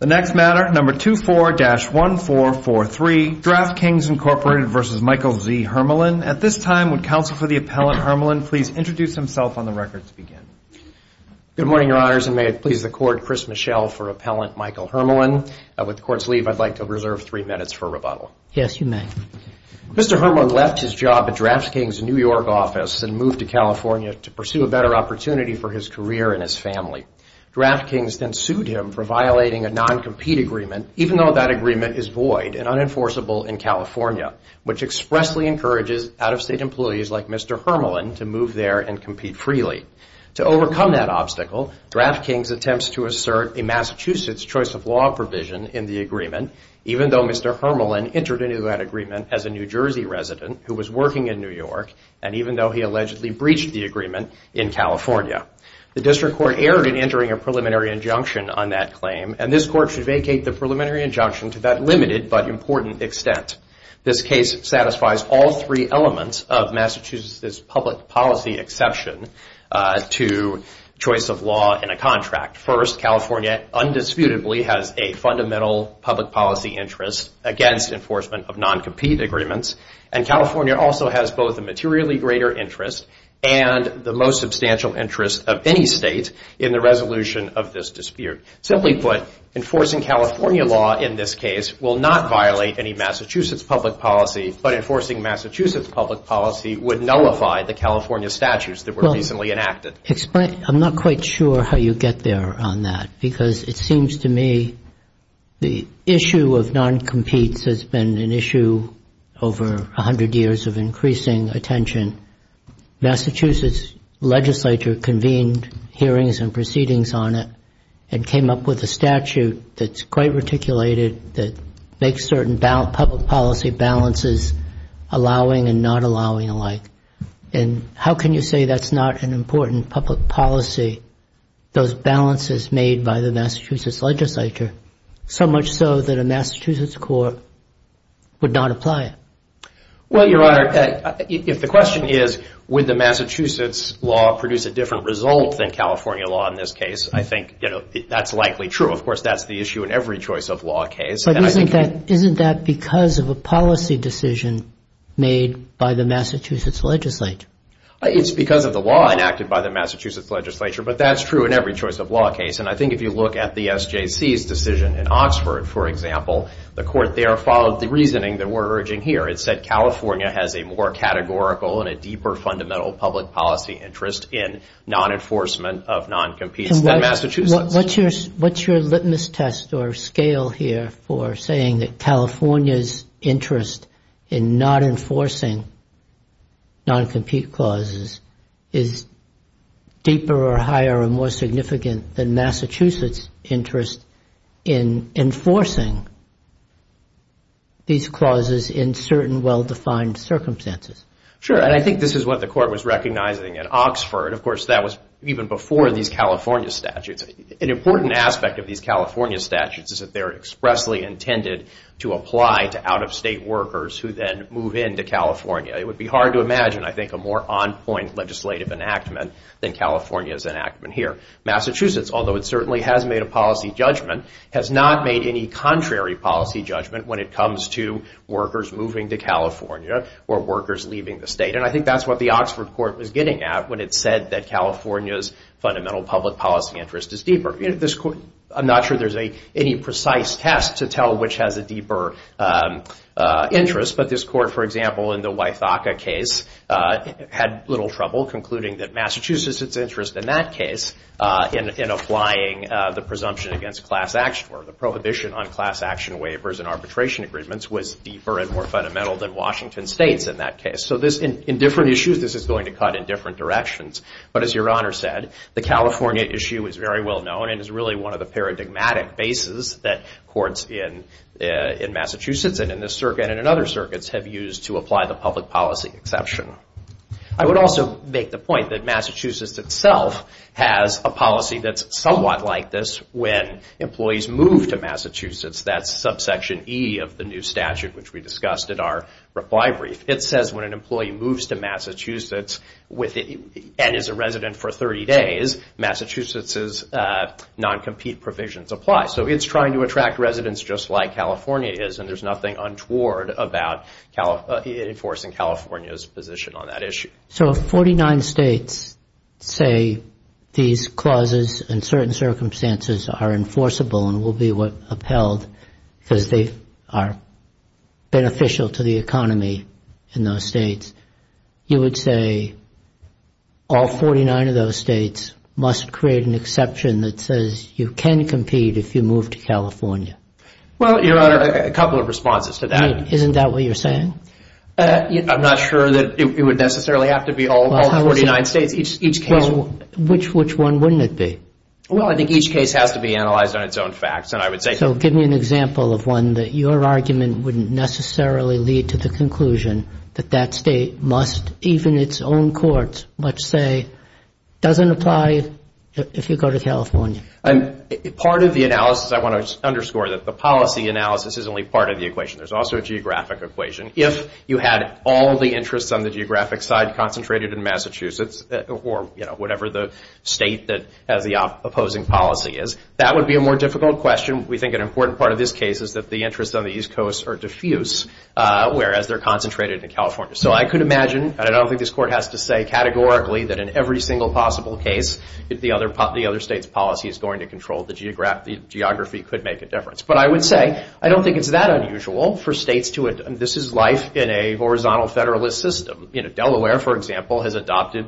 The next matter, number 24-1443, DraftKings, Inc. v. Michael Z. Hermalyn. At this time, would Counsel for the Appellant Hermalyn please introduce himself on the record to begin? Good morning, Your Honors, and may it please the Court, Chris Michel for Appellant Michael Hermalyn. With the Court's leave, I'd like to reserve three minutes for rebuttal. Yes, you may. Mr. Hermalyn left his job at DraftKings' New York office and moved to California to pursue a better opportunity for his career and his family. DraftKings then sued him for violating a non-compete agreement, even though that agreement is void and unenforceable in California, which expressly encourages out-of-state employees like Mr. Hermalyn to move there and compete freely. To overcome that obstacle, DraftKings attempts to assert a Massachusetts choice of law provision in the agreement, even though Mr. Hermalyn entered into that agreement as a New Jersey resident who was working in New York, and even though he allegedly breached the agreement in California. The District Court erred in entering a preliminary injunction on that claim, and this Court should vacate the preliminary injunction to that limited but important extent. This case satisfies all three elements of Massachusetts' public policy exception to choice of law in a contract. First, California undisputably has a fundamental public policy interest against enforcement of non-compete agreements, and California also has both a materially greater interest and the most substantial interest of any state in the resolution of this dispute. Simply put, enforcing California law in this case will not violate any Massachusetts public policy, but enforcing Massachusetts public policy would nullify the California statutes that were recently enacted. Well, explain. I'm not quite sure how you get there on that, because it seems to me the issue of non-competes has been an issue over a hundred years of increasing attention. Massachusetts legislature convened hearings and proceedings on it and came up with a statute that's quite reticulated, that makes certain public policy balances, allowing and not allowing alike. And how can you say that's not an important public policy, those balances made by the Massachusetts legislature, so much so that a Massachusetts court would not apply it? Well, Your Honor, if the question is, would the Massachusetts law produce a different result than California law in this case, I think that's likely true. Of course, that's the issue in every choice of law case. Isn't that because of a policy decision made by the Massachusetts legislature? It's because of the law enacted by the Massachusetts legislature, but that's true in every choice of law case. And I think if you look at the SJC's decision in Oxford, for example, the court there followed the reasoning that we're urging here. It said California has a more categorical and a deeper fundamental public policy interest in non-enforcement of non-competes than Massachusetts. What's your litmus test or scale here for saying that California's interest in not enforcing non-compete clauses is deeper or higher or more significant than Massachusetts' interest in enforcing these clauses in certain well-defined circumstances? Sure, and I think this is what the court was recognizing at Oxford. Of course, that was even before these California statutes. An important aspect of these California statutes is that they're expressly intended to apply to out-of-state workers who then move into California. It would be hard to imagine, I think, a more on-point legislative enactment than California's enactment here. Massachusetts, although it certainly has made a policy judgment, has not made any contrary policy judgment when it comes to workers moving to California or workers leaving the state. And I think that's what the Oxford court was getting at when it said that California's fundamental public policy interest is deeper. I'm not sure there's any precise test to tell which has a deeper interest, but this court, for example, in the Wythaka case, had little trouble concluding that Massachusetts' interest in that case in applying the presumption against class action or the prohibition on class action waivers and arbitration agreements was deeper and more fundamental than Washington State's in that case. So in different issues, this is going to cut in different directions. But as Your Honor said, the California issue is very well known and is really one of the paradigmatic bases that courts in Massachusetts and in this circuit and in other circuits have used to apply the public policy exception. I would also make the point that Massachusetts itself has a policy that's somewhat like this when employees move to Massachusetts. That's subsection E of the new statute, which we discussed at our reply brief. It says when an employee moves to Massachusetts and is a resident for 30 days, Massachusetts' non-compete provisions apply. So it's trying to attract residents just like California is, and there's nothing untoward about enforcing California's position on that issue. So if 49 states say these clauses in certain circumstances are enforceable and will be what upheld because they are beneficial to the economy in those states, you would say all 49 of those states must create an exception that says you can compete if you move to California? Well, Your Honor, a couple of responses to that. But isn't that what you're saying? I'm not sure that it would necessarily have to be all 49 states. Each case... Well, which one wouldn't it be? Well, I think each case has to be analyzed on its own facts, and I would say... So give me an example of one that your argument wouldn't necessarily lead to the conclusion that that state must, even its own courts, must say doesn't apply if you go to California. Part of the analysis, I want to underscore that the policy analysis is only part of the equation. There's also a geographic equation. If you had all the interests on the geographic side concentrated in Massachusetts, or whatever the state that has the opposing policy is, that would be a more difficult question. We think an important part of this case is that the interests on the East Coast are diffuse, whereas they're concentrated in California. So I could imagine, and I don't think this Court has to say categorically, that in every single possible case, if the other state's policy is going to control the geography could make a difference. But I would say, I don't think it's that unusual for states to... This is life in a horizontal Federalist system. Delaware, for example, has adopted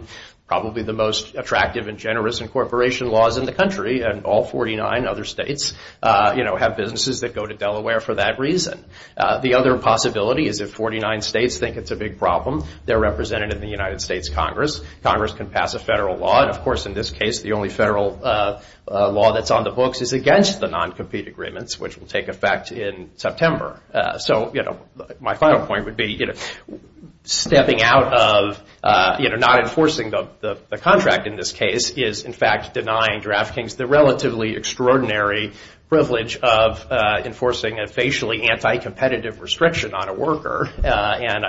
probably the most attractive and generous incorporation laws in the country, and all 49 other states have businesses that go to Delaware for that reason. The other possibility is if 49 states think it's a big problem, they're represented in the United States Congress. Congress can pass a federal law, and of course in this case, the only federal law that's on the books is against the non-compete agreements, which will take effect in September. So my final point would be stepping out of not enforcing the contract in this case is in fact denying draft kings the relatively extraordinary privilege of enforcing a facially anti-competitive restriction on a worker, and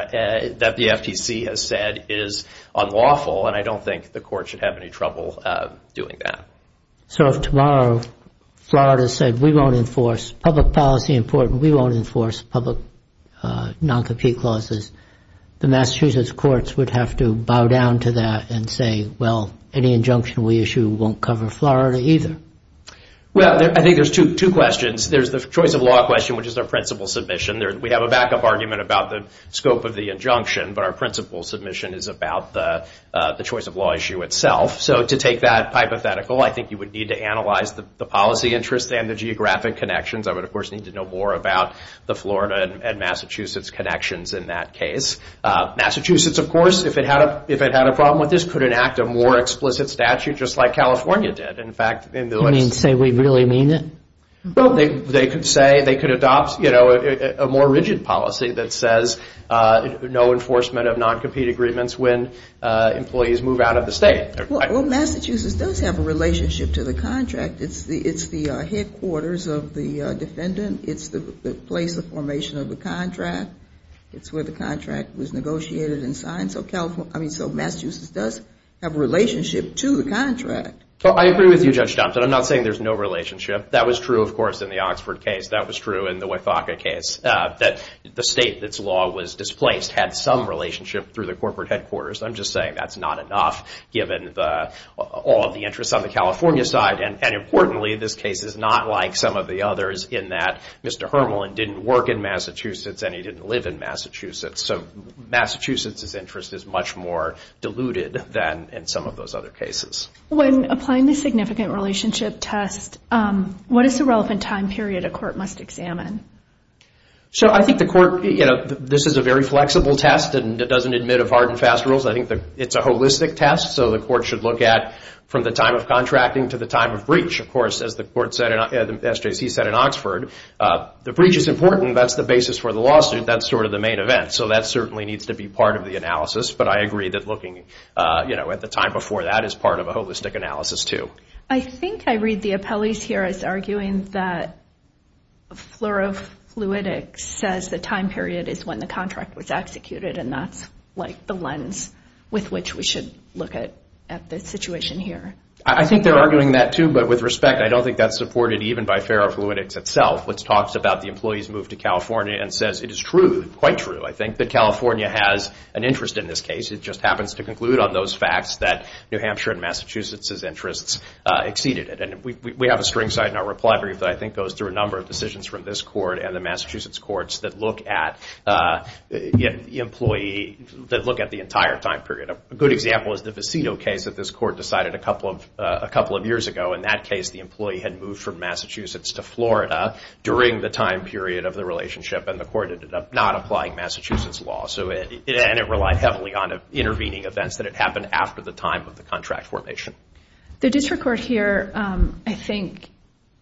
that the FTC has said is unlawful, and I don't think the Court should have any trouble doing that. So if tomorrow Florida said, we won't enforce public policy in court, and we won't enforce public non-compete clauses, the Massachusetts courts would have to bow down to that and say, well, any injunction we issue won't cover Florida either. Well, I think there's two questions. There's the choice of law question, which is our principal submission. We have a backup argument about the scope of the injunction, but our principal submission is about the choice of law issue itself. So to take that hypothetical, I think you would need to analyze the policy interest and the geographic connections. I would, of course, need to know more about the Florida and Massachusetts connections in that case. Massachusetts, of course, if it had a problem with this, could enact a more explicit statute just like California did. In fact, in the list- You mean to say we really mean it? Well, they could say, they could adopt a more rigid policy that says no enforcement of non-compete agreements when employees move out of the state. Well, Massachusetts does have a relationship to the contract. It's the headquarters of the defendant. It's the place of formation of the contract. It's where the contract was negotiated and signed. So Massachusetts does have a relationship to the contract. Well, I agree with you, Judge Thompson. I'm not saying there's no relationship. That was true, of course, in the Oxford case. That was true in the Wythaka case, that the state that's law was displaced had some relationship through the corporate headquarters. I'm just saying that's not enough given all of the interests on the California side. And importantly, this case is not like some of the others in that Mr. Hermelin didn't work in Massachusetts and he didn't live in Massachusetts. So Massachusetts's interest is much more diluted than in some of those other cases. When applying the significant relationship test, what is the relevant time period a court must examine? So I think the court, you know, this is a very flexible test and it doesn't admit of hard and fast rules. I think it's a holistic test. So the court should look at from the time of contracting to the time of breach. Of course, as the court said, as SJC said in Oxford, the breach is important. That's the basis for the lawsuit. That's sort of the main event. So that certainly needs to be part of the analysis. But I agree that looking, you know, at the time before that is part of a holistic analysis, too. I think I read the appellees here as arguing that fluorofluidic says the time period is when the contract was executed. And that's like the lens with which we should look at the situation here. I think they're arguing that, too. But with respect, I don't think that's supported even by fluorofluidics itself, which talks about the employees moved to California and says it is true, quite true, I think, that California has an interest in this case. It just happens to conclude on those facts that New Hampshire and Massachusetts's interests exceeded it. And we have a string side in our reply brief that I think goes through a number of court and the Massachusetts courts that look at the employee, that look at the entire time period. A good example is the Vecino case that this court decided a couple of years ago. In that case, the employee had moved from Massachusetts to Florida during the time period of the relationship. And the court ended up not applying Massachusetts law. So it relied heavily on intervening events that had happened after the time of the contract formation. The district court here, I think,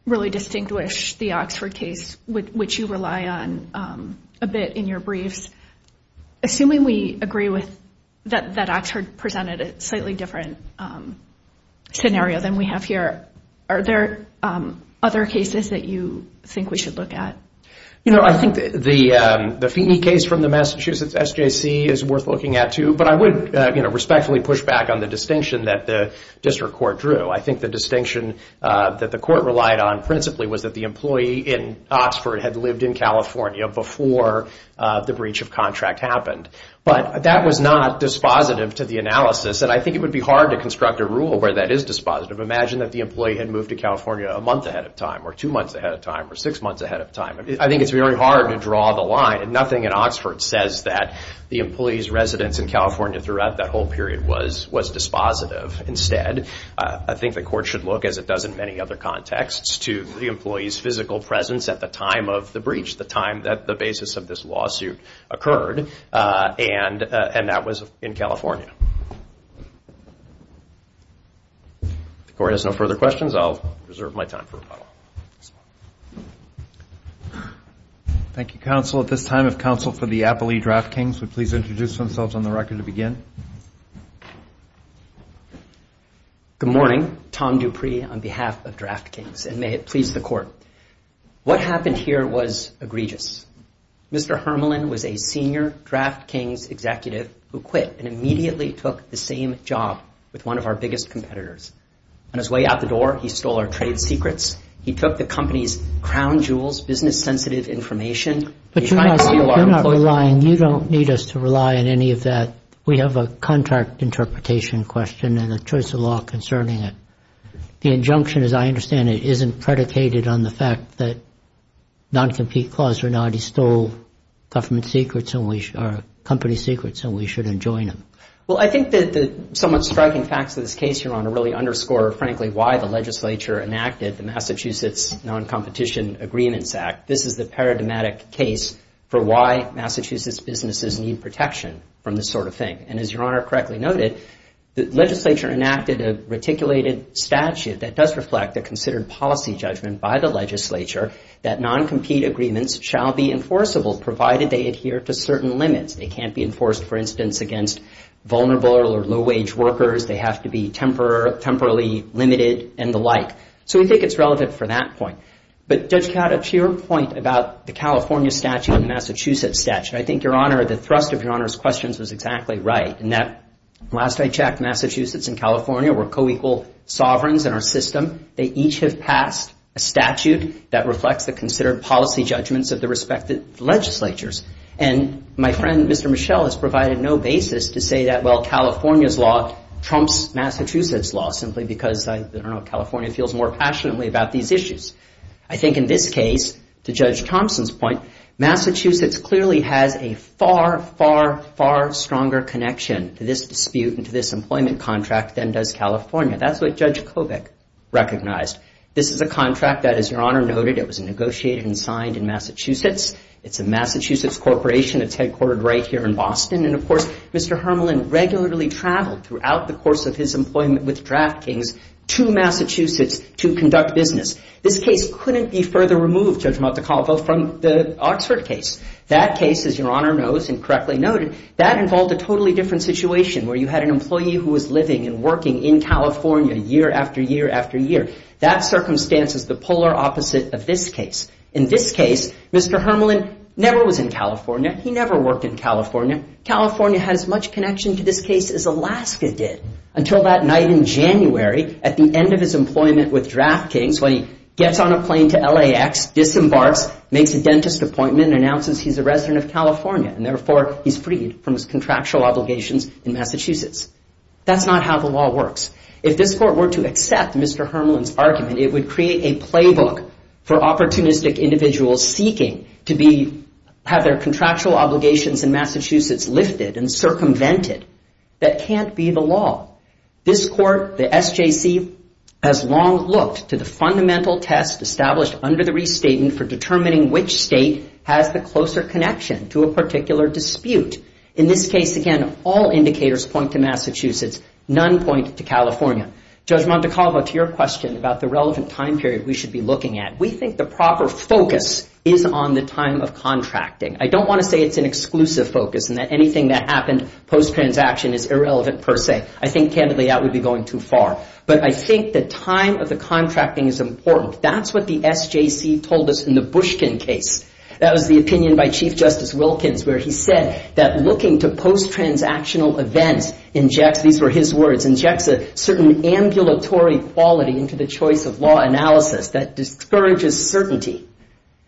really distinguished the Oxford case, which you rely on a bit in your briefs. Assuming we agree with that Oxford presented a slightly different scenario than we have here, are there other cases that you think we should look at? You know, I think the Feeney case from the Massachusetts SJC is worth looking at, too. But I would respectfully push back on the distinction that the district court drew. I think the distinction that the court relied on principally was that the employee in Oxford had lived in California before the breach of contract happened. But that was not dispositive to the analysis. And I think it would be hard to construct a rule where that is dispositive. Imagine that the employee had moved to California a month ahead of time or two months ahead of time or six months ahead of time. I think it's very hard to draw the line. Nothing in Oxford says that the employee's residence in California throughout that whole period was dispositive. Instead, I think the court should look, as it does in many other contexts, to the employee's physical presence at the time of the breach, the time that the basis of this lawsuit occurred. And that was in California. If the court has no further questions, I'll reserve my time for rebuttal. Thank you, counsel. At this time, if counsel for the Appley Draftkings would please introduce themselves on the record to begin. Good morning. Tom Dupree on behalf of Draftkings, and may it please the court. What happened here was egregious. Mr. Hermelin was a senior Draftkings executive who quit and immediately took the same job with one of our biggest competitors. On his way out the door, he stole our trade secrets. He took the company's crown jewels, business-sensitive information. But you're not relying, you don't need us to rely on any of that. We have a contract interpretation question and a choice of law concerning it. The injunction, as I understand it, isn't predicated on the fact that non-compete clause or not. He stole government secrets and we are company secrets and we should enjoin him. Well, I think that the somewhat striking facts of this case, Your Honor, really underscore, frankly, why the legislature enacted the Massachusetts Non-Competition Agreements Act. This is the paradigmatic case for why Massachusetts businesses need protection from this sort of thing. And as Your Honor correctly noted, the legislature enacted a reticulated statute that does reflect the considered policy judgment by the legislature that non-compete agreements shall be enforceable, provided they adhere to certain limits. They can't be enforced, for instance, against vulnerable or low-wage workers. They have to be temporarily limited and the like. So we think it's relevant for that point. But, Judge Kada, to your point about the California statute and the Massachusetts statute, I think, Your Honor, the thrust of Your Honor's questions was exactly right in that, last I checked, Massachusetts and California were co-equal sovereigns in our system. They each have passed a statute that reflects the considered policy judgments of the respective legislatures. And my friend, Mr. Michel, has provided no basis to say that, well, California's law trumps Massachusetts' law, simply because, I don't know, California feels more passionately about these issues. I think in this case, to Judge Thompson's point, Massachusetts clearly has a far, far, far stronger connection to this dispute and to this employment contract than does California. That's what Judge Kobach recognized. This is a contract that, as Your Honor noted, it was negotiated and signed in Massachusetts. It's a Massachusetts corporation. It's headquartered right here in Boston. And, of course, Mr. Hermelin regularly traveled throughout the course of his employment with DraftKings to Massachusetts to conduct business. This case couldn't be further removed, Judge Montecalvo, from the Oxford case. That case, as Your Honor knows and correctly noted, that involved a totally different situation where you had an employee who was living and working in California year after year after year. That circumstance is the polar opposite of this case. In this case, Mr. Hermelin never was in California. He never worked in California. California has as much connection to this case as Alaska did. Until that night in January, at the end of his employment with DraftKings, when he gets on a plane to LAX, disembarks, makes a dentist appointment, announces he's a resident of California, and therefore he's freed from his contractual obligations in Massachusetts. That's not how the law works. If this court were to accept Mr. Hermelin's argument, it would create a playbook for opportunistic individuals seeking to have their contractual obligations in Massachusetts lifted and circumvented. That can't be the law. This court, the SJC, has long looked to the fundamental test established under the restatement for determining which state has the closer connection to a particular dispute. In this case, again, all indicators point to Massachusetts, none point to California. Judge Montecalvo, to your question about the relevant time period we should be looking at, we think the proper focus is on the time of contracting. I don't want to say it's an exclusive focus and that anything that happened post transaction is irrelevant per se. I think, candidly, that would be going too far. But I think the time of the contracting is important. That's what the SJC told us in the Bushkin case. That was the opinion by Chief Justice Wilkins, where he said that looking to post transactional events injects, these were his words, injects a certain ambulatory quality into the choice of law analysis that discourages certainty.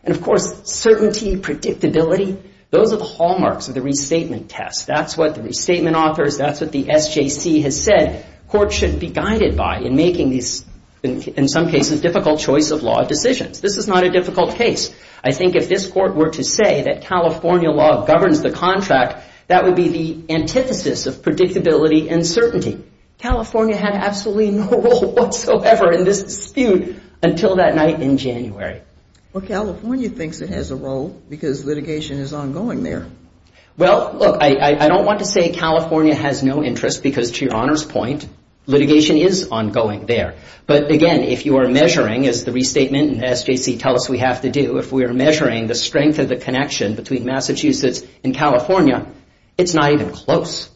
And of course, certainty, predictability, those are the hallmarks of the restatement test. That's what the restatement authors, that's what the SJC has said court should be guided by in making these, in some cases, difficult choice of law decisions. This is not a difficult case. I think if this court were to say that California law governs the contract, that would be the antithesis of predictability and certainty. California had absolutely no role whatsoever in this dispute until that night in January. Well, California thinks it has a role because litigation is ongoing there. Well, look, I don't want to say California has no interest because, to your honor's point, litigation is ongoing there. But again, if you are measuring, as the restatement and SJC tell us we have to do, if we are measuring the strength of the connection between Massachusetts and California, it's not even close.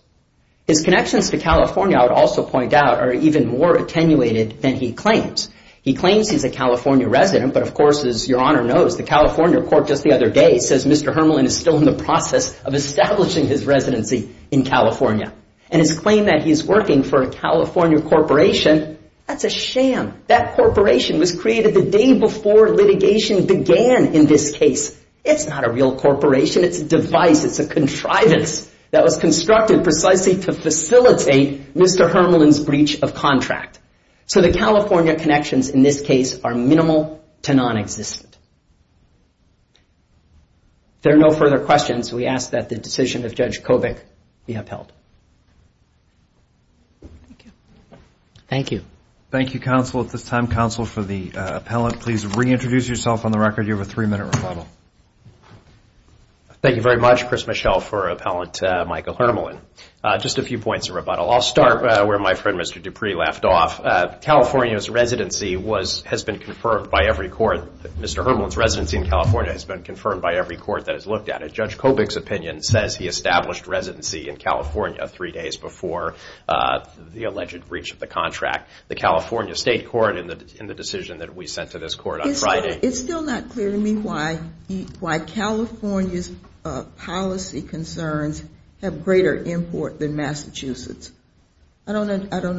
His connections to California, I would also point out, are even more attenuated than he claims. He claims he's a California resident, but of course, as your honor knows, the California court just the other day says Mr. Hermelin is still in the process of establishing his residency in California. And his claim that he's working for a California corporation, that's a sham. That corporation was created the day before litigation began in this case. It's not a real corporation. It's a device. It's a contrivance that was constructed precisely to facilitate Mr. Hermelin's breach of contract. So the California connections in this case are minimal to nonexistent. There are no further questions. We ask that the decision of Judge Kobik be upheld. Thank you. Thank you, counsel. At this time, counsel, for the appellant, please reintroduce yourself on the record. You have a three-minute rebuttal. Thank you very much, Chris Michel, for Appellant Michael Hermelin. Just a few points of rebuttal. I'll start where my friend, Mr. Dupree, left off. California's residency has been confirmed by every court. Mr. Hermelin's residency in California has been confirmed by every court that has looked at it. Judge Kobik's opinion says he established residency in California three days before the alleged breach of the contract. The California State Court, in the decision that we sent to this court on Friday. It's still not clear to me why California's policy concerns have greater import than Massachusetts. I don't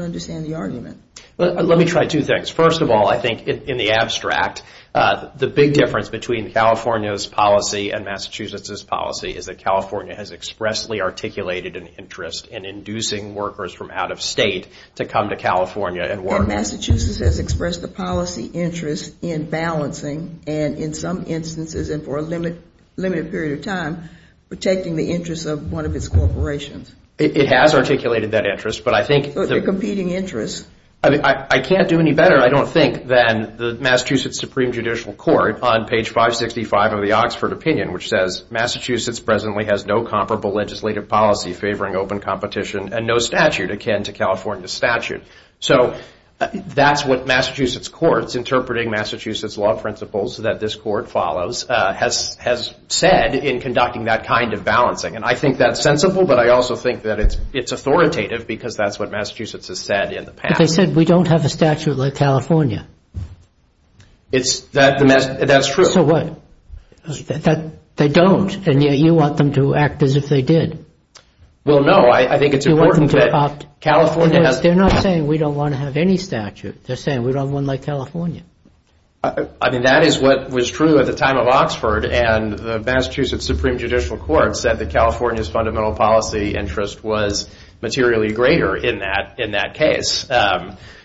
understand the argument. Let me try two things. First of all, I think in the abstract, the big difference between California's policy and Massachusetts's policy is that California has expressly articulated an interest in inducing workers from out of state to come to California and work. And Massachusetts has expressed a policy interest in balancing and in some instances, and for a limited period of time, protecting the interests of one of its corporations. It has articulated that interest. But I think the competing interests. I mean, I can't do any better, I don't think, than the Massachusetts Supreme Judicial Court on page 565 of the Oxford opinion, which says Massachusetts presently has no comparable legislative policy favoring open competition and no statute akin to California's statute. So that's what Massachusetts courts, interpreting Massachusetts law principles that this court follows, has said in conducting that kind of balancing. And I think that's sensible, but I also think that it's it's authoritative because that's what Massachusetts has said in the past. They said we don't have a statute like California. It's that the that's true. So what they don't. And yet you want them to act as if they did. Well, no, I think it's important that California has. They're not saying we don't want to have any statute. They're saying we don't have one like California. I mean, that is what was true at the time of Oxford and the Massachusetts Supreme Judicial Court said that California's fundamental policy interest was materially greater in that in that case.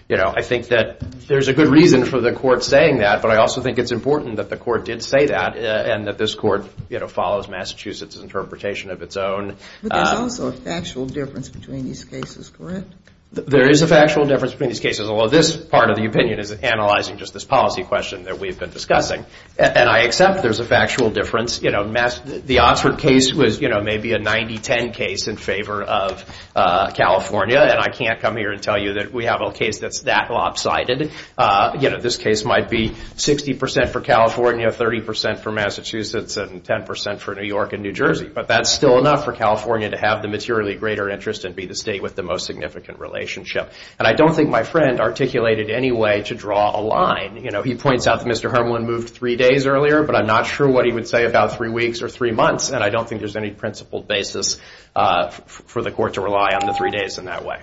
You know, I think that there's a good reason for the court saying that. But I also think it's important that the court did say that and that this court, you know, follows Massachusetts interpretation of its own. But there's also a factual difference between these cases, correct? There is a factual difference between these cases. Although this part of the opinion is analyzing just this policy question that we've been discussing. And I accept there's a factual difference. You know, the Oxford case was, you know, maybe a 90-10 case in favor of California. And I can't come here and tell you that we have a case that's that lopsided. You know, this case might be 60 percent for California, 30 percent for Massachusetts and 10 percent for New York and New Jersey. But that's still enough for California to have the materially greater interest and be the state with the most significant relationship. And I don't think my friend articulated any way to draw a line. You know, he points out that Mr. Hermelin moved three days earlier. But I'm not sure what he would say about three weeks or three months. And I don't think there's any principled basis for the court to rely on the three days in that way.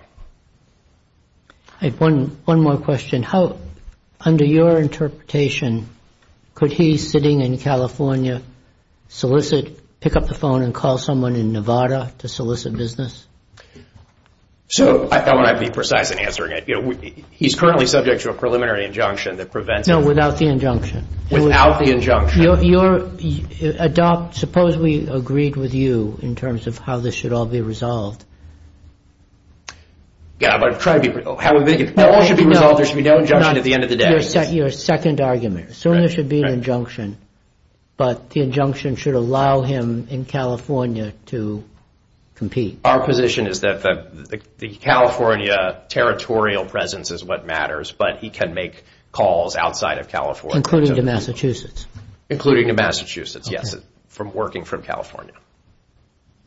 I have one more question. How, under your interpretation, could he sitting in California solicit, pick up the phone and call someone in Nevada to solicit business? So I want to be precise in answering it. You know, he's currently subject to a preliminary injunction that prevents. No, without the injunction, without the injunction of your adopt, suppose we agreed with you in terms of how this should all be resolved. Yeah, but I'm trying to be. However, it all should be resolved. There should be no injunction at the end of the day. Your second argument. So there should be an injunction, but the injunction should allow him in California to compete. Our position is that the California territorial presence is what matters, but he can make calls outside of California, including the Massachusetts, including the Massachusetts. Yes, from working from California.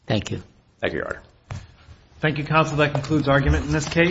Thank you. Thank you, Your Honor. Thank you, counsel. That concludes argument in this case.